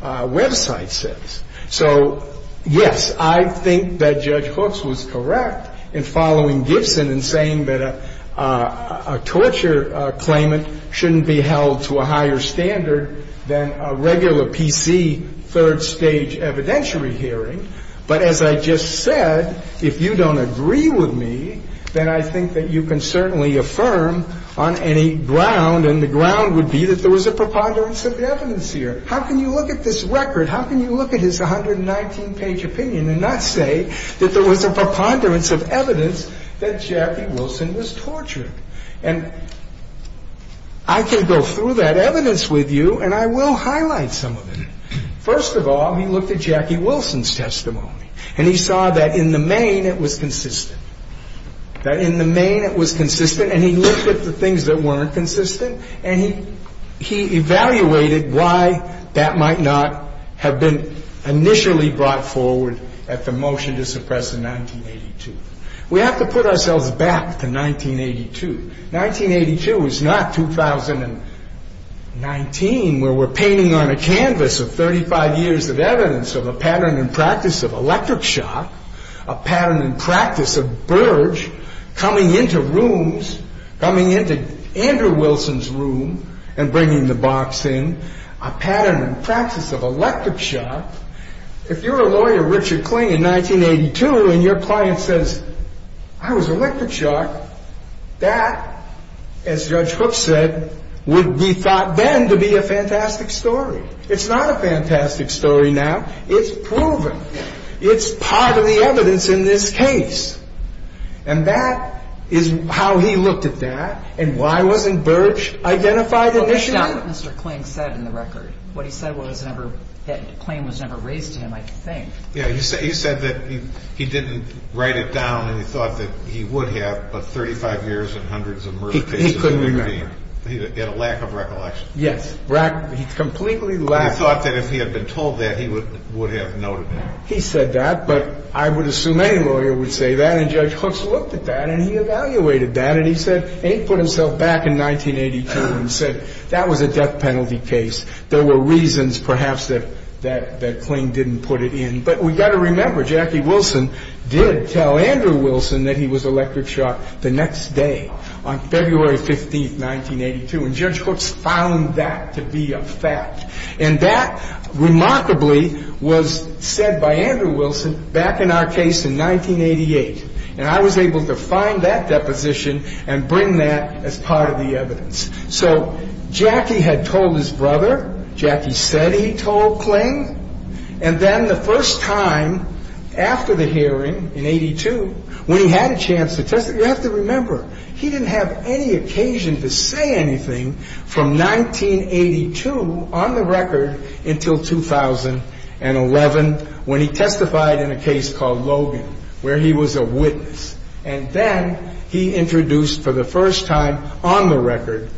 website says. So, yes, I think that Judge Hooks was correct in following Gibson and saying that a torture claimant shouldn't be held to a higher standard than a regular PC third stage evidentiary hearing. But as I just said, if you don't agree with me, then I think that you can certainly affirm on any ground and the ground would be that there was a preponderance of evidence here. How can you look at this record? How can you look at his 119 page opinion and not say that there was a preponderance of evidence here and that Jackie Wilson was tortured? And I can go through that evidence with you and I will highlight some of it. First of all, he looked at Jackie Wilson's testimony and he saw that in the main it was consistent. That in the main it was consistent and he looked at the things that weren't consistent and he evaluated why that might not have been initially brought forward at the motion to suppress in 1982. We have to put ourselves back to 1982. 1982 is not 2019 where we're painting on a canvas of 35 years of evidence of a pattern and practice of electric shock, a pattern and practice of Burge coming into rooms, coming into Andrew Wilson's room and bringing the box in, a pattern and practice of electric shock. If you're a lawyer, Richard Kling, in 1982 and your client says, I was electric shocked, that as Judge Hook said, would be thought then to be a fantastic story. It's not a fantastic story now. It's proven. It's part of the evidence in this case. And that is how he looked at that and why wasn't Burge identified initially? That's not what Mr. Kling said in the record. What he said was that claim was never raised to him, I think. He said that he didn't write it down and he thought that he would have, but 35 years and hundreds of murder cases. He couldn't remember. He had a lack of recollection. Yes. He completely lacked... He thought that if he had been told that, he would have noted it. He said that, but I would assume any lawyer would say that and Judge Hooks looked at that and he evaluated that and he said, he put himself back in 1982 and said, that was a death penalty case. There were reasons perhaps that Kling didn't put it in, but we've got to remember, Jackie Wilson did tell Andrew Wilson that he was electric shocked the next day on February 15, 1982 and Judge Hooks found that to be a fact. And that remarkably was said by Andrew Wilson back in our case in 1988 and I was able to find that deposition and bring that as evidence. Jackie had told his brother, Jackie said he told Kling and then the first time after the hearing in 82, when he had a chance to testify, you have to remember, he didn't have any occasion to say anything from 1982 on the record until 2011 when he testified in a case called Logan, where he was a witness and then he introduced for the first time on the record,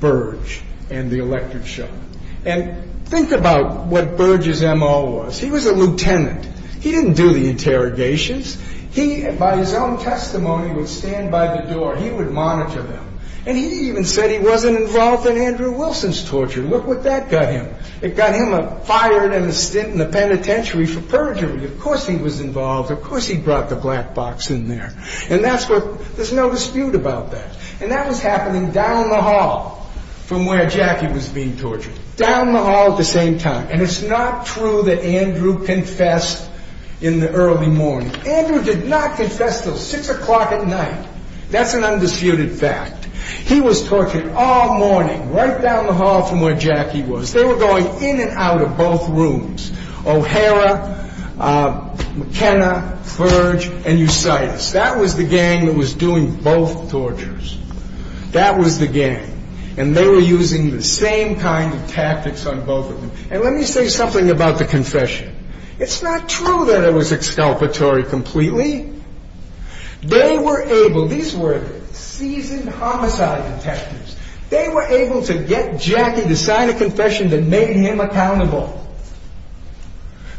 Burge and the electric shock. And think about what Burge's M.O. was. He was a lieutenant. He didn't do the interrogations. He, by his own testimony would stand by the door. He would monitor them. And he even said he wasn't involved in Andrew Wilson's torture. Look what that got him. It got him fired and a stint in the penitentiary for perjury. Of course he was involved. Of course he brought the black box in there. And that's what, there's no dispute about that. And that was happening down the hall from where Jackie was being tortured. Down the hall at the same time. And it's not true that Andrew confessed in the early morning. Andrew did not confess until 6 o'clock at night. That's an undisputed fact. He was tortured all morning, right down the hall from where Jackie was. They were going in and out of both rooms. O'Hara, McKenna, Burge, and both torturers. That was the gang. And they were using the same kind of tactics on both of them. And let me say something about the confession. It's not true that it was exculpatory completely. They were able, these were seasoned homicide detectives. They were able to get Jackie to sign a confession that made him accountable.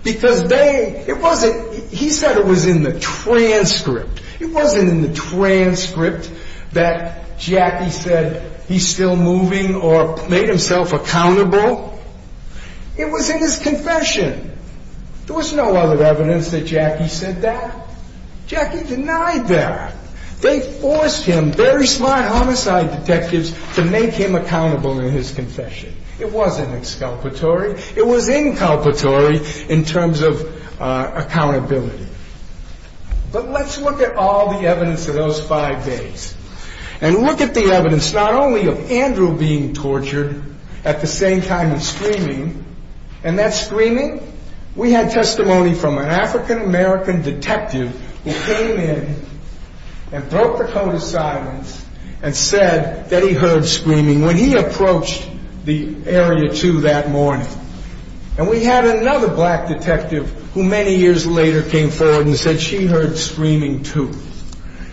Because they, it wasn't, he said it was in the transcript. It wasn't in the transcript that Jackie said he's still moving or made himself accountable. It was in his confession. There was no other evidence that Jackie said that. Jackie denied that. They forced him, very smart homicide detectives, to make him accountable in his confession. It wasn't exculpatory. It was inculpatory in terms of accountability. But let's look at all the evidence of those five days. And look at the evidence, not only of Andrew being tortured at the same time as screaming, and that screaming, we had testimony from an African-American detective who came in and broke the code of silence and said that he heard screaming when he approached the Area 2 that morning. And we had another black detective who many years later came forward and said she heard screaming too.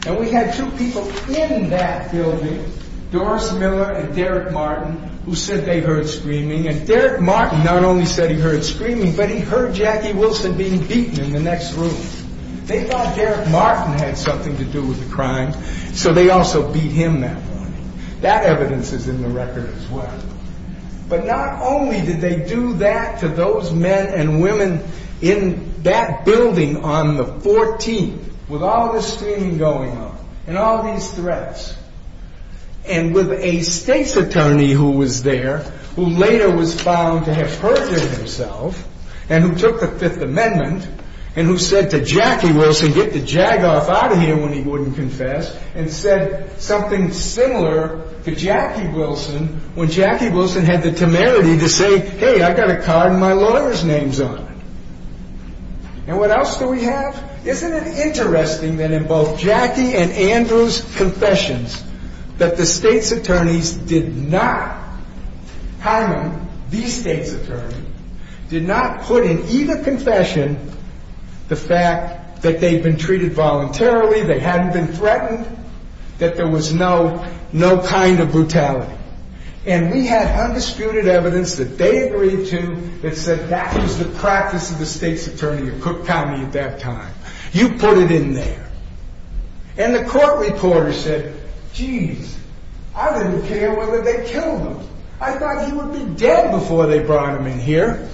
And we had two people in that building, Doris Miller and Derek Martin, who said they heard screaming. And Derek Martin not only said he heard screaming, but he heard Jackie Wilson being beaten in the next room. They thought Derek Martin had something to do with the crime, so they also beat him that morning. That evidence is in the record as well. But not only did they do that to those men and women in that building on the 14th, with all this screaming going on, and all these threats, and with a state's attorney who was there, who later was found to have hurted himself, and who took the Fifth Amendment, and who said to Jackie Wilson, get the jag off out of here when he wouldn't confess, and said something similar to Jackie Wilson when Jackie Wilson had the my lawyer's name on it. And what else do we have? Isn't it interesting that in both Jackie and Andrew's confessions that the state's attorneys did not harm him, these state's attorneys, did not put in either confession the fact that they'd been treated voluntarily, they hadn't been threatened, that there was no kind of brutality. And we had undisputed evidence that they agreed to that said that was the practice of the state's attorney of Cook County at that time. You put it in there. And the court reporter said, jeez, I didn't care whether they killed him. I thought he would be dead before they brought him in here.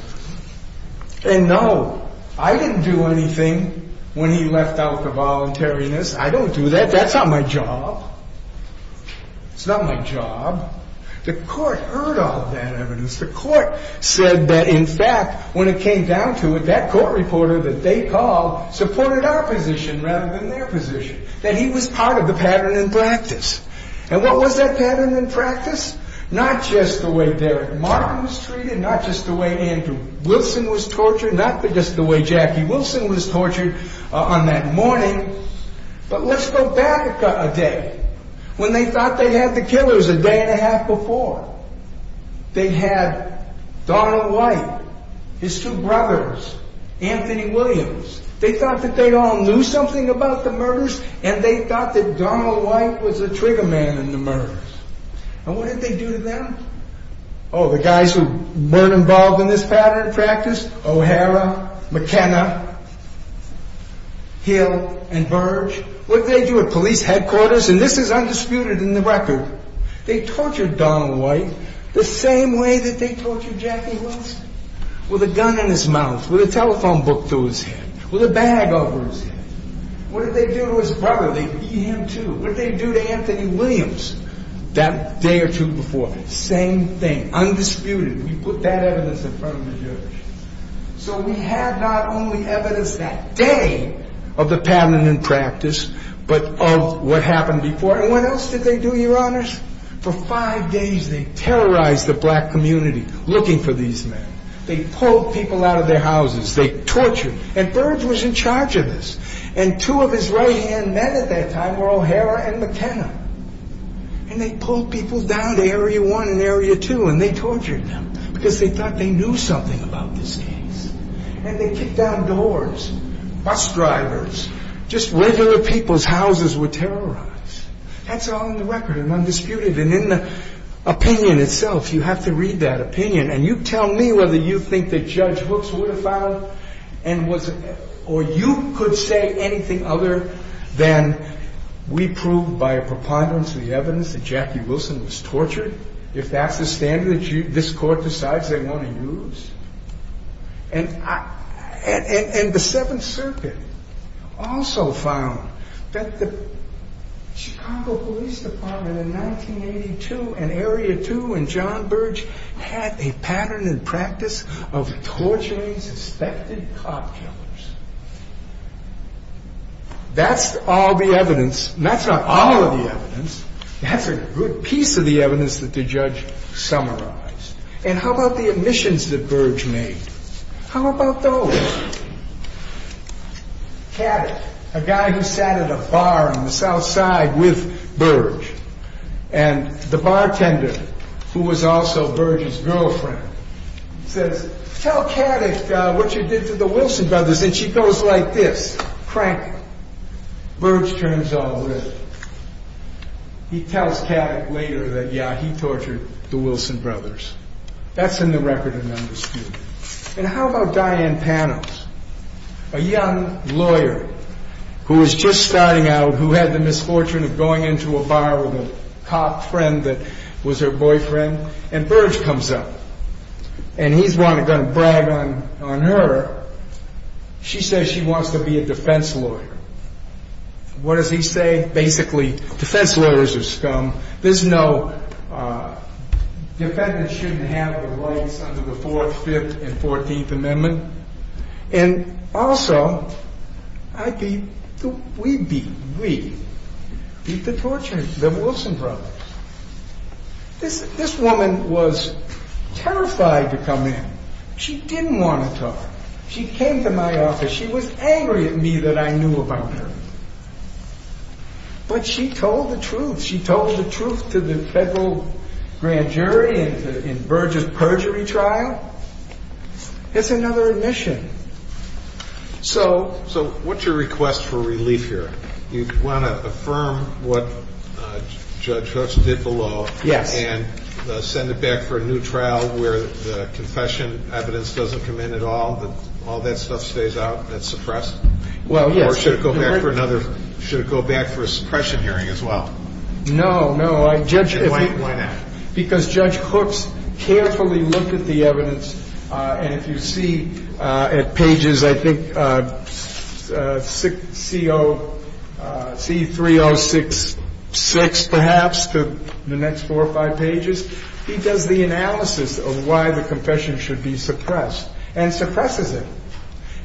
And no, I didn't do anything when he left out the voluntariness. I don't do that. That's not my job. It's not my job. The court heard all of that evidence. The court said that in fact, when it came down to it, that court reporter that they called supported our position rather than their position, that he was part of the pattern in practice. And what was that pattern in practice? Not just the way Derek Martin was treated, not just the way Andrew Wilson was tortured, not just the way Jackie Wilson was tortured on that morning, but let's go back a day. When they thought they had the killers a day and a half before. They had Donald White, his two brothers, Anthony Williams. They thought that they all knew something about the murders, and they thought that Donald White was the trigger man in the murders. And what did they do to them? Oh, the guys who weren't involved in this pattern in practice? O'Hara, McKenna, Hill, and Verge. What did they do at police headquarters? And this is undisputed in the record. They tortured Donald White the same way that they tortured Jackie Wilson. With a gun in his mouth, with a telephone book through his head, with a bag over his head. What did they do to his brother? They beat him too. What did they do to Anthony Williams that day or two before? Same thing. Undisputed. We put that evidence in front of the judge. So we had not only evidence that day of the pattern in practice, but of what happened before. And what else did they do, your honors? For five days, they terrorized the black community looking for these men. They pulled people out of their houses. They tortured. And Verge was in charge of this. And two of his right-hand men at that time were O'Hara and McKenna. And they pulled people down to Area 1 and Area 2, and they tortured them because they thought they knew something about this case. And they kicked down doors. Bus drivers. Just regular people's houses were terrorized. That's all in the record. Undisputed. And in the opinion itself, you have to read that opinion. And you tell me whether you think that Judge Hooks would have filed and was or you could say anything other than we proved by a preponderance of the evidence that Jackie Wilson was tortured. If that's the standard that this court decides they want to use. And the Seventh Circuit also found that the Chicago Police Department in 1982 and Area 2 and John Verge had a pattern and practice of torturing suspected cop killers. That's all the evidence. That's not all of the evidence. That's a good piece of the evidence that the judge summarized. And how about the remissions that Verge made? How about those? Caddick, a guy who sat at a bar on the south side with Verge and the bartender who was also Verge's girlfriend, says tell Caddick what you did to the Wilson brothers. And she goes like this. Crank. Verge turns all red. He tells Caddick later that yeah, he tortured the Wilson brothers. He was He didn't torture them. He just started an understudy. And how about Diane Panos, a young lawyer who was just starting out who had the misfortune of going into a bar with her cop friend that was her boyfriend. And Verge comes up. And he's going to brag on her. She says she wants to be a defense lawyer. What does he say? Basically, defense lawyers are scum. There's no defendants shouldn't have the rights under the fourth, fifth and fourteenth amendment. And also I beat, we beat we beat the torturers, the Wilson brothers. This woman was terrified to come in. She didn't want to talk. She came to my office. She was angry at me that I knew about her. But she told the truth. She told the truth to the federal grand jury in Verge's perjury trial. It's another admission. So So what's your request for relief here? You want to affirm what Judge Hooks did below and send it back for a new trial where the confession evidence doesn't come in at all, all that stuff stays out, that's suppressed? Or should it go back for another suppression hearing as well? No, no. Why not? Because Judge Hooks carefully looked at the evidence and if you see at pages I think C3066 perhaps to the next four or five pages he does the analysis of why the confession should be suppressed and suppresses it.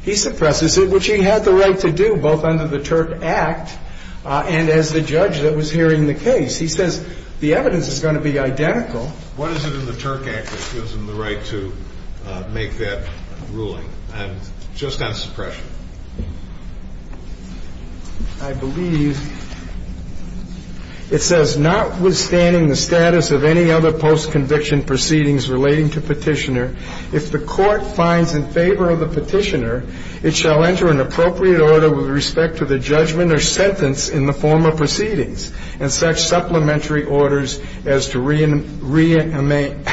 He suppresses it, which he had the right to do both under the Turk Act and as the judge that was hearing the case. He says the evidence is going to be identical. What is it in the Turk Act that gives him the right to make that ruling? Just on suppression. I believe it says notwithstanding the status of any other post of the petitioner, if the court finds in favor of the petitioner it shall enter an appropriate order with respect to the judgment or sentence in the form of proceedings and such supplementary orders as to rearrangement,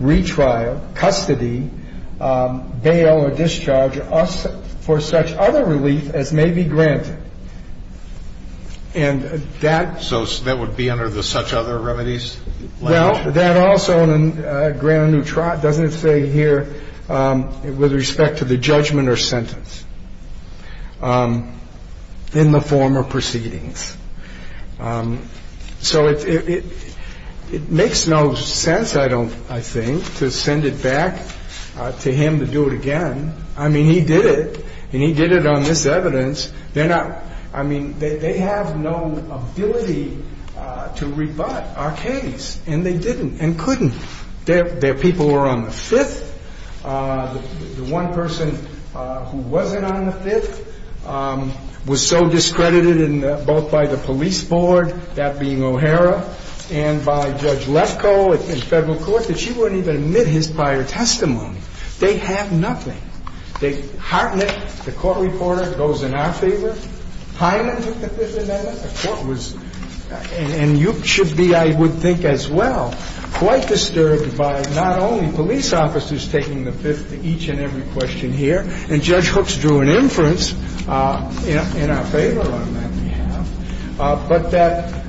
retrial, custody, bail or discharge for such other relief as may be granted. And that So that would be under the That also doesn't say here with respect to the judgment or sentence in the form of proceedings. So it makes no sense I think to send it back to him to do it again. I mean he did it and he did it on this evidence. They have no ability to rebut our case. And they didn't and couldn't. Their people were on the 5th. The one person who wasn't on the 5th was so discredited both by the police board that being O'Hara and by Judge Lesko in federal court that she wouldn't even admit his prior testimony. They have nothing. They hearten it. The court reporter goes in our favor. Hyman took the 5th amendment. The court was and you should be I would think as well quite disturbed by not only police officers taking the 5th to each and every question here and Judge Hooks drew an inference in our favor on that behalf but that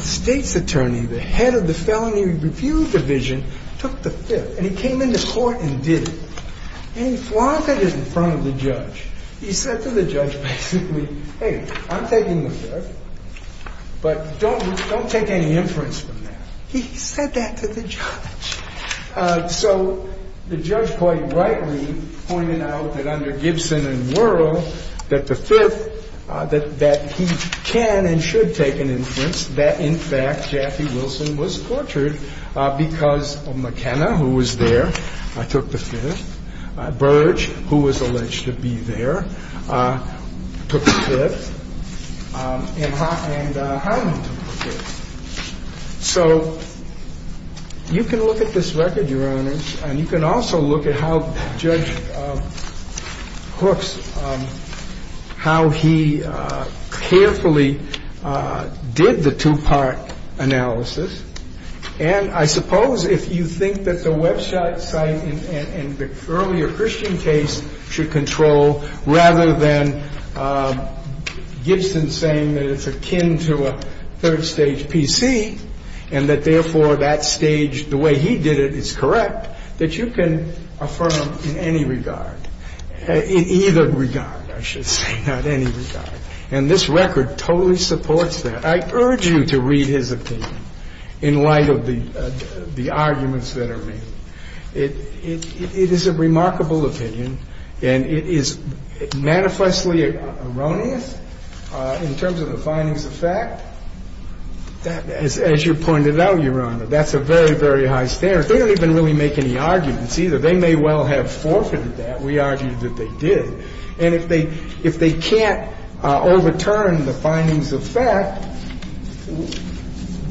state's attorney, the head of the felony review division took the 5th and he came into court and did it. And he flaunted it in front of the judge. He said to the judge basically, hey, I'm taking the 5th but don't take any inference from that. He said that to the judge. So the judge quite rightly pointed out that under Gibson and Wuerl that the 5th that he can and should take an inference that in fact Jaffee Wilson was tortured because McKenna, who was there, took the 5th. Burge, who was alleged to be there, took the 5th and Harlan took the 5th. So you can look at this record, Your Honor and you can also look at how Judge Hooks how he carefully did the two-part analysis and I suppose if you think that the website site and the earlier Christian case should control rather than Gibson saying that it's akin to a third stage PC and that therefore that stage, the way he did it, is correct that you can affirm in any regard in either regard, I should say not any regard. And this record totally supports that. I urge you to read his opinion in light of the arguments that are made. It is a remarkable opinion and it is manifestly erroneous in terms of the findings of fact that as you pointed out, Your Honor, that's a very very high standard. They don't even really make any arguments either. They may well have forfeited that. We argue that they did. And if they can't overturn the findings of fact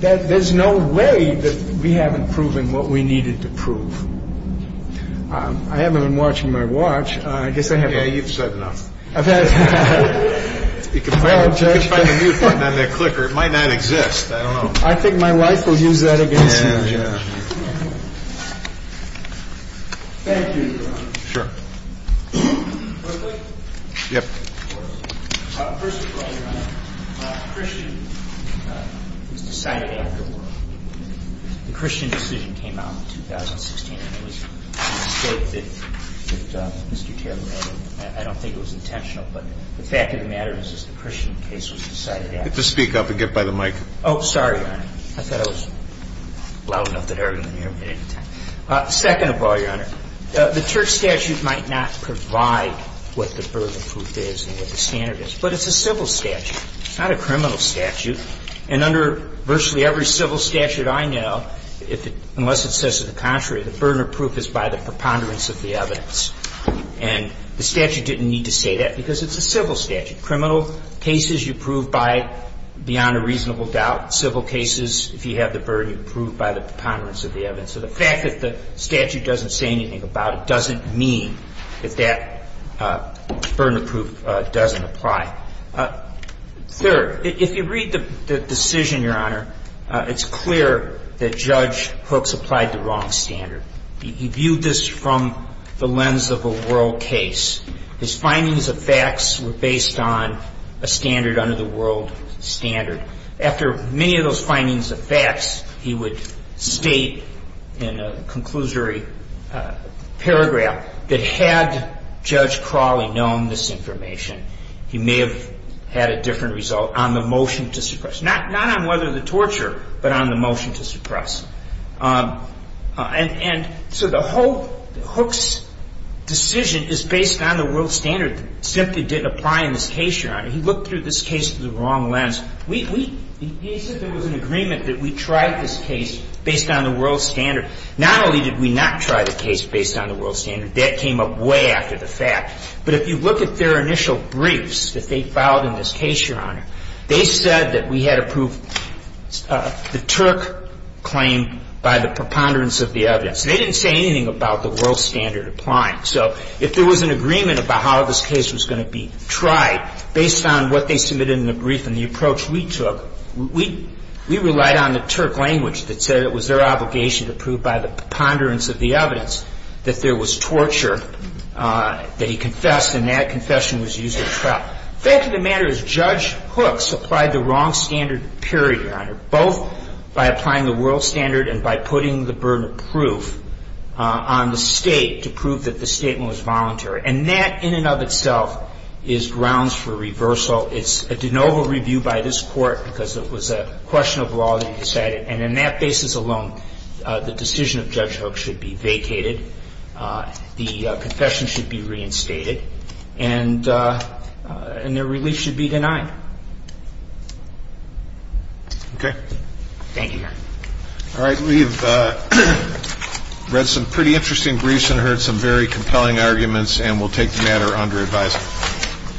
that there's no way that we haven't proven what we needed to prove. I haven't been watching my watch. I guess I haven't... Yeah, you've said enough. I've had... You can find the mute button on the clicker. It might not exist. I don't know. I think my wife will use that against you, Judge. Thank you, Your Honor. Sure. Quickly? Yep. First of all, Christian decision was decided after war. The Christian decision came out in 2016 and it was a mistake that Mr. Taylor made. I don't think it was intentional, but the fact of the matter is that the Christian case was decided after war. Oh, sorry, Your Honor. I thought I was loud enough that I didn't hear him at any time. Second of all, Your Honor, the church statute might not provide what the burden of proof is and what the standard is, but it's a civil statute, not a criminal statute. And under virtually every civil statute I know, unless it says to the contrary, the burden of proof is by the preponderance of the evidence. And the statute didn't need to say that because it's a civil statute. Criminal cases you prove by beyond a reasonable doubt. Civil cases, if you have the burden, you prove by the preponderance of the evidence. So the fact that the statute doesn't say anything about it doesn't mean that that statute doesn't apply. Third, if you read the decision, Your Honor, it's clear that Judge Hooks applied the wrong standard. He viewed this from the lens of a world case. His findings of facts were based on a standard under the world standard. After many of those findings of facts, he would state in a conclusory paragraph that had Judge Crawley known this information, he may have had a different result on the motion to suppress. Not on whether the torture, but on the motion to suppress. And so the whole Hooks decision is based on the world standard that simply didn't apply in this case, Your Honor. He looked through this case through the wrong lens. He said there was an agreement that we tried this case based on the world standard. Not only did we not try the case based on the world standard, that came up way after the fact. But if you look at their initial briefs that they filed in this case, Your Honor, they said that we had approved the Turk claim by the preponderance of the evidence. They didn't say anything about the world standard applying. So if there was an agreement about how this case was going to be tried based on what they submitted in the brief and the approach we took, we relied on the Turk language that said it was their obligation to prove by the world standard that there was torture that he confessed and that confession was used as trial. The fact of the matter is Judge Hooks applied the wrong standard, period, Your Honor, both by applying the world standard and by putting the burden of proof on the State to prove that the statement was voluntary. And that in and of itself is grounds for reversal. It's a de novo review by this Court because it was a question of law that he decided. And on that basis alone, the decision of Judge Hooks should be vacated. The confession should be reinstated. And their release should be denied. Okay. Thank you, Your Honor. All right. We've read some pretty interesting briefs and heard some very compelling arguments and we'll take the matter under advisement.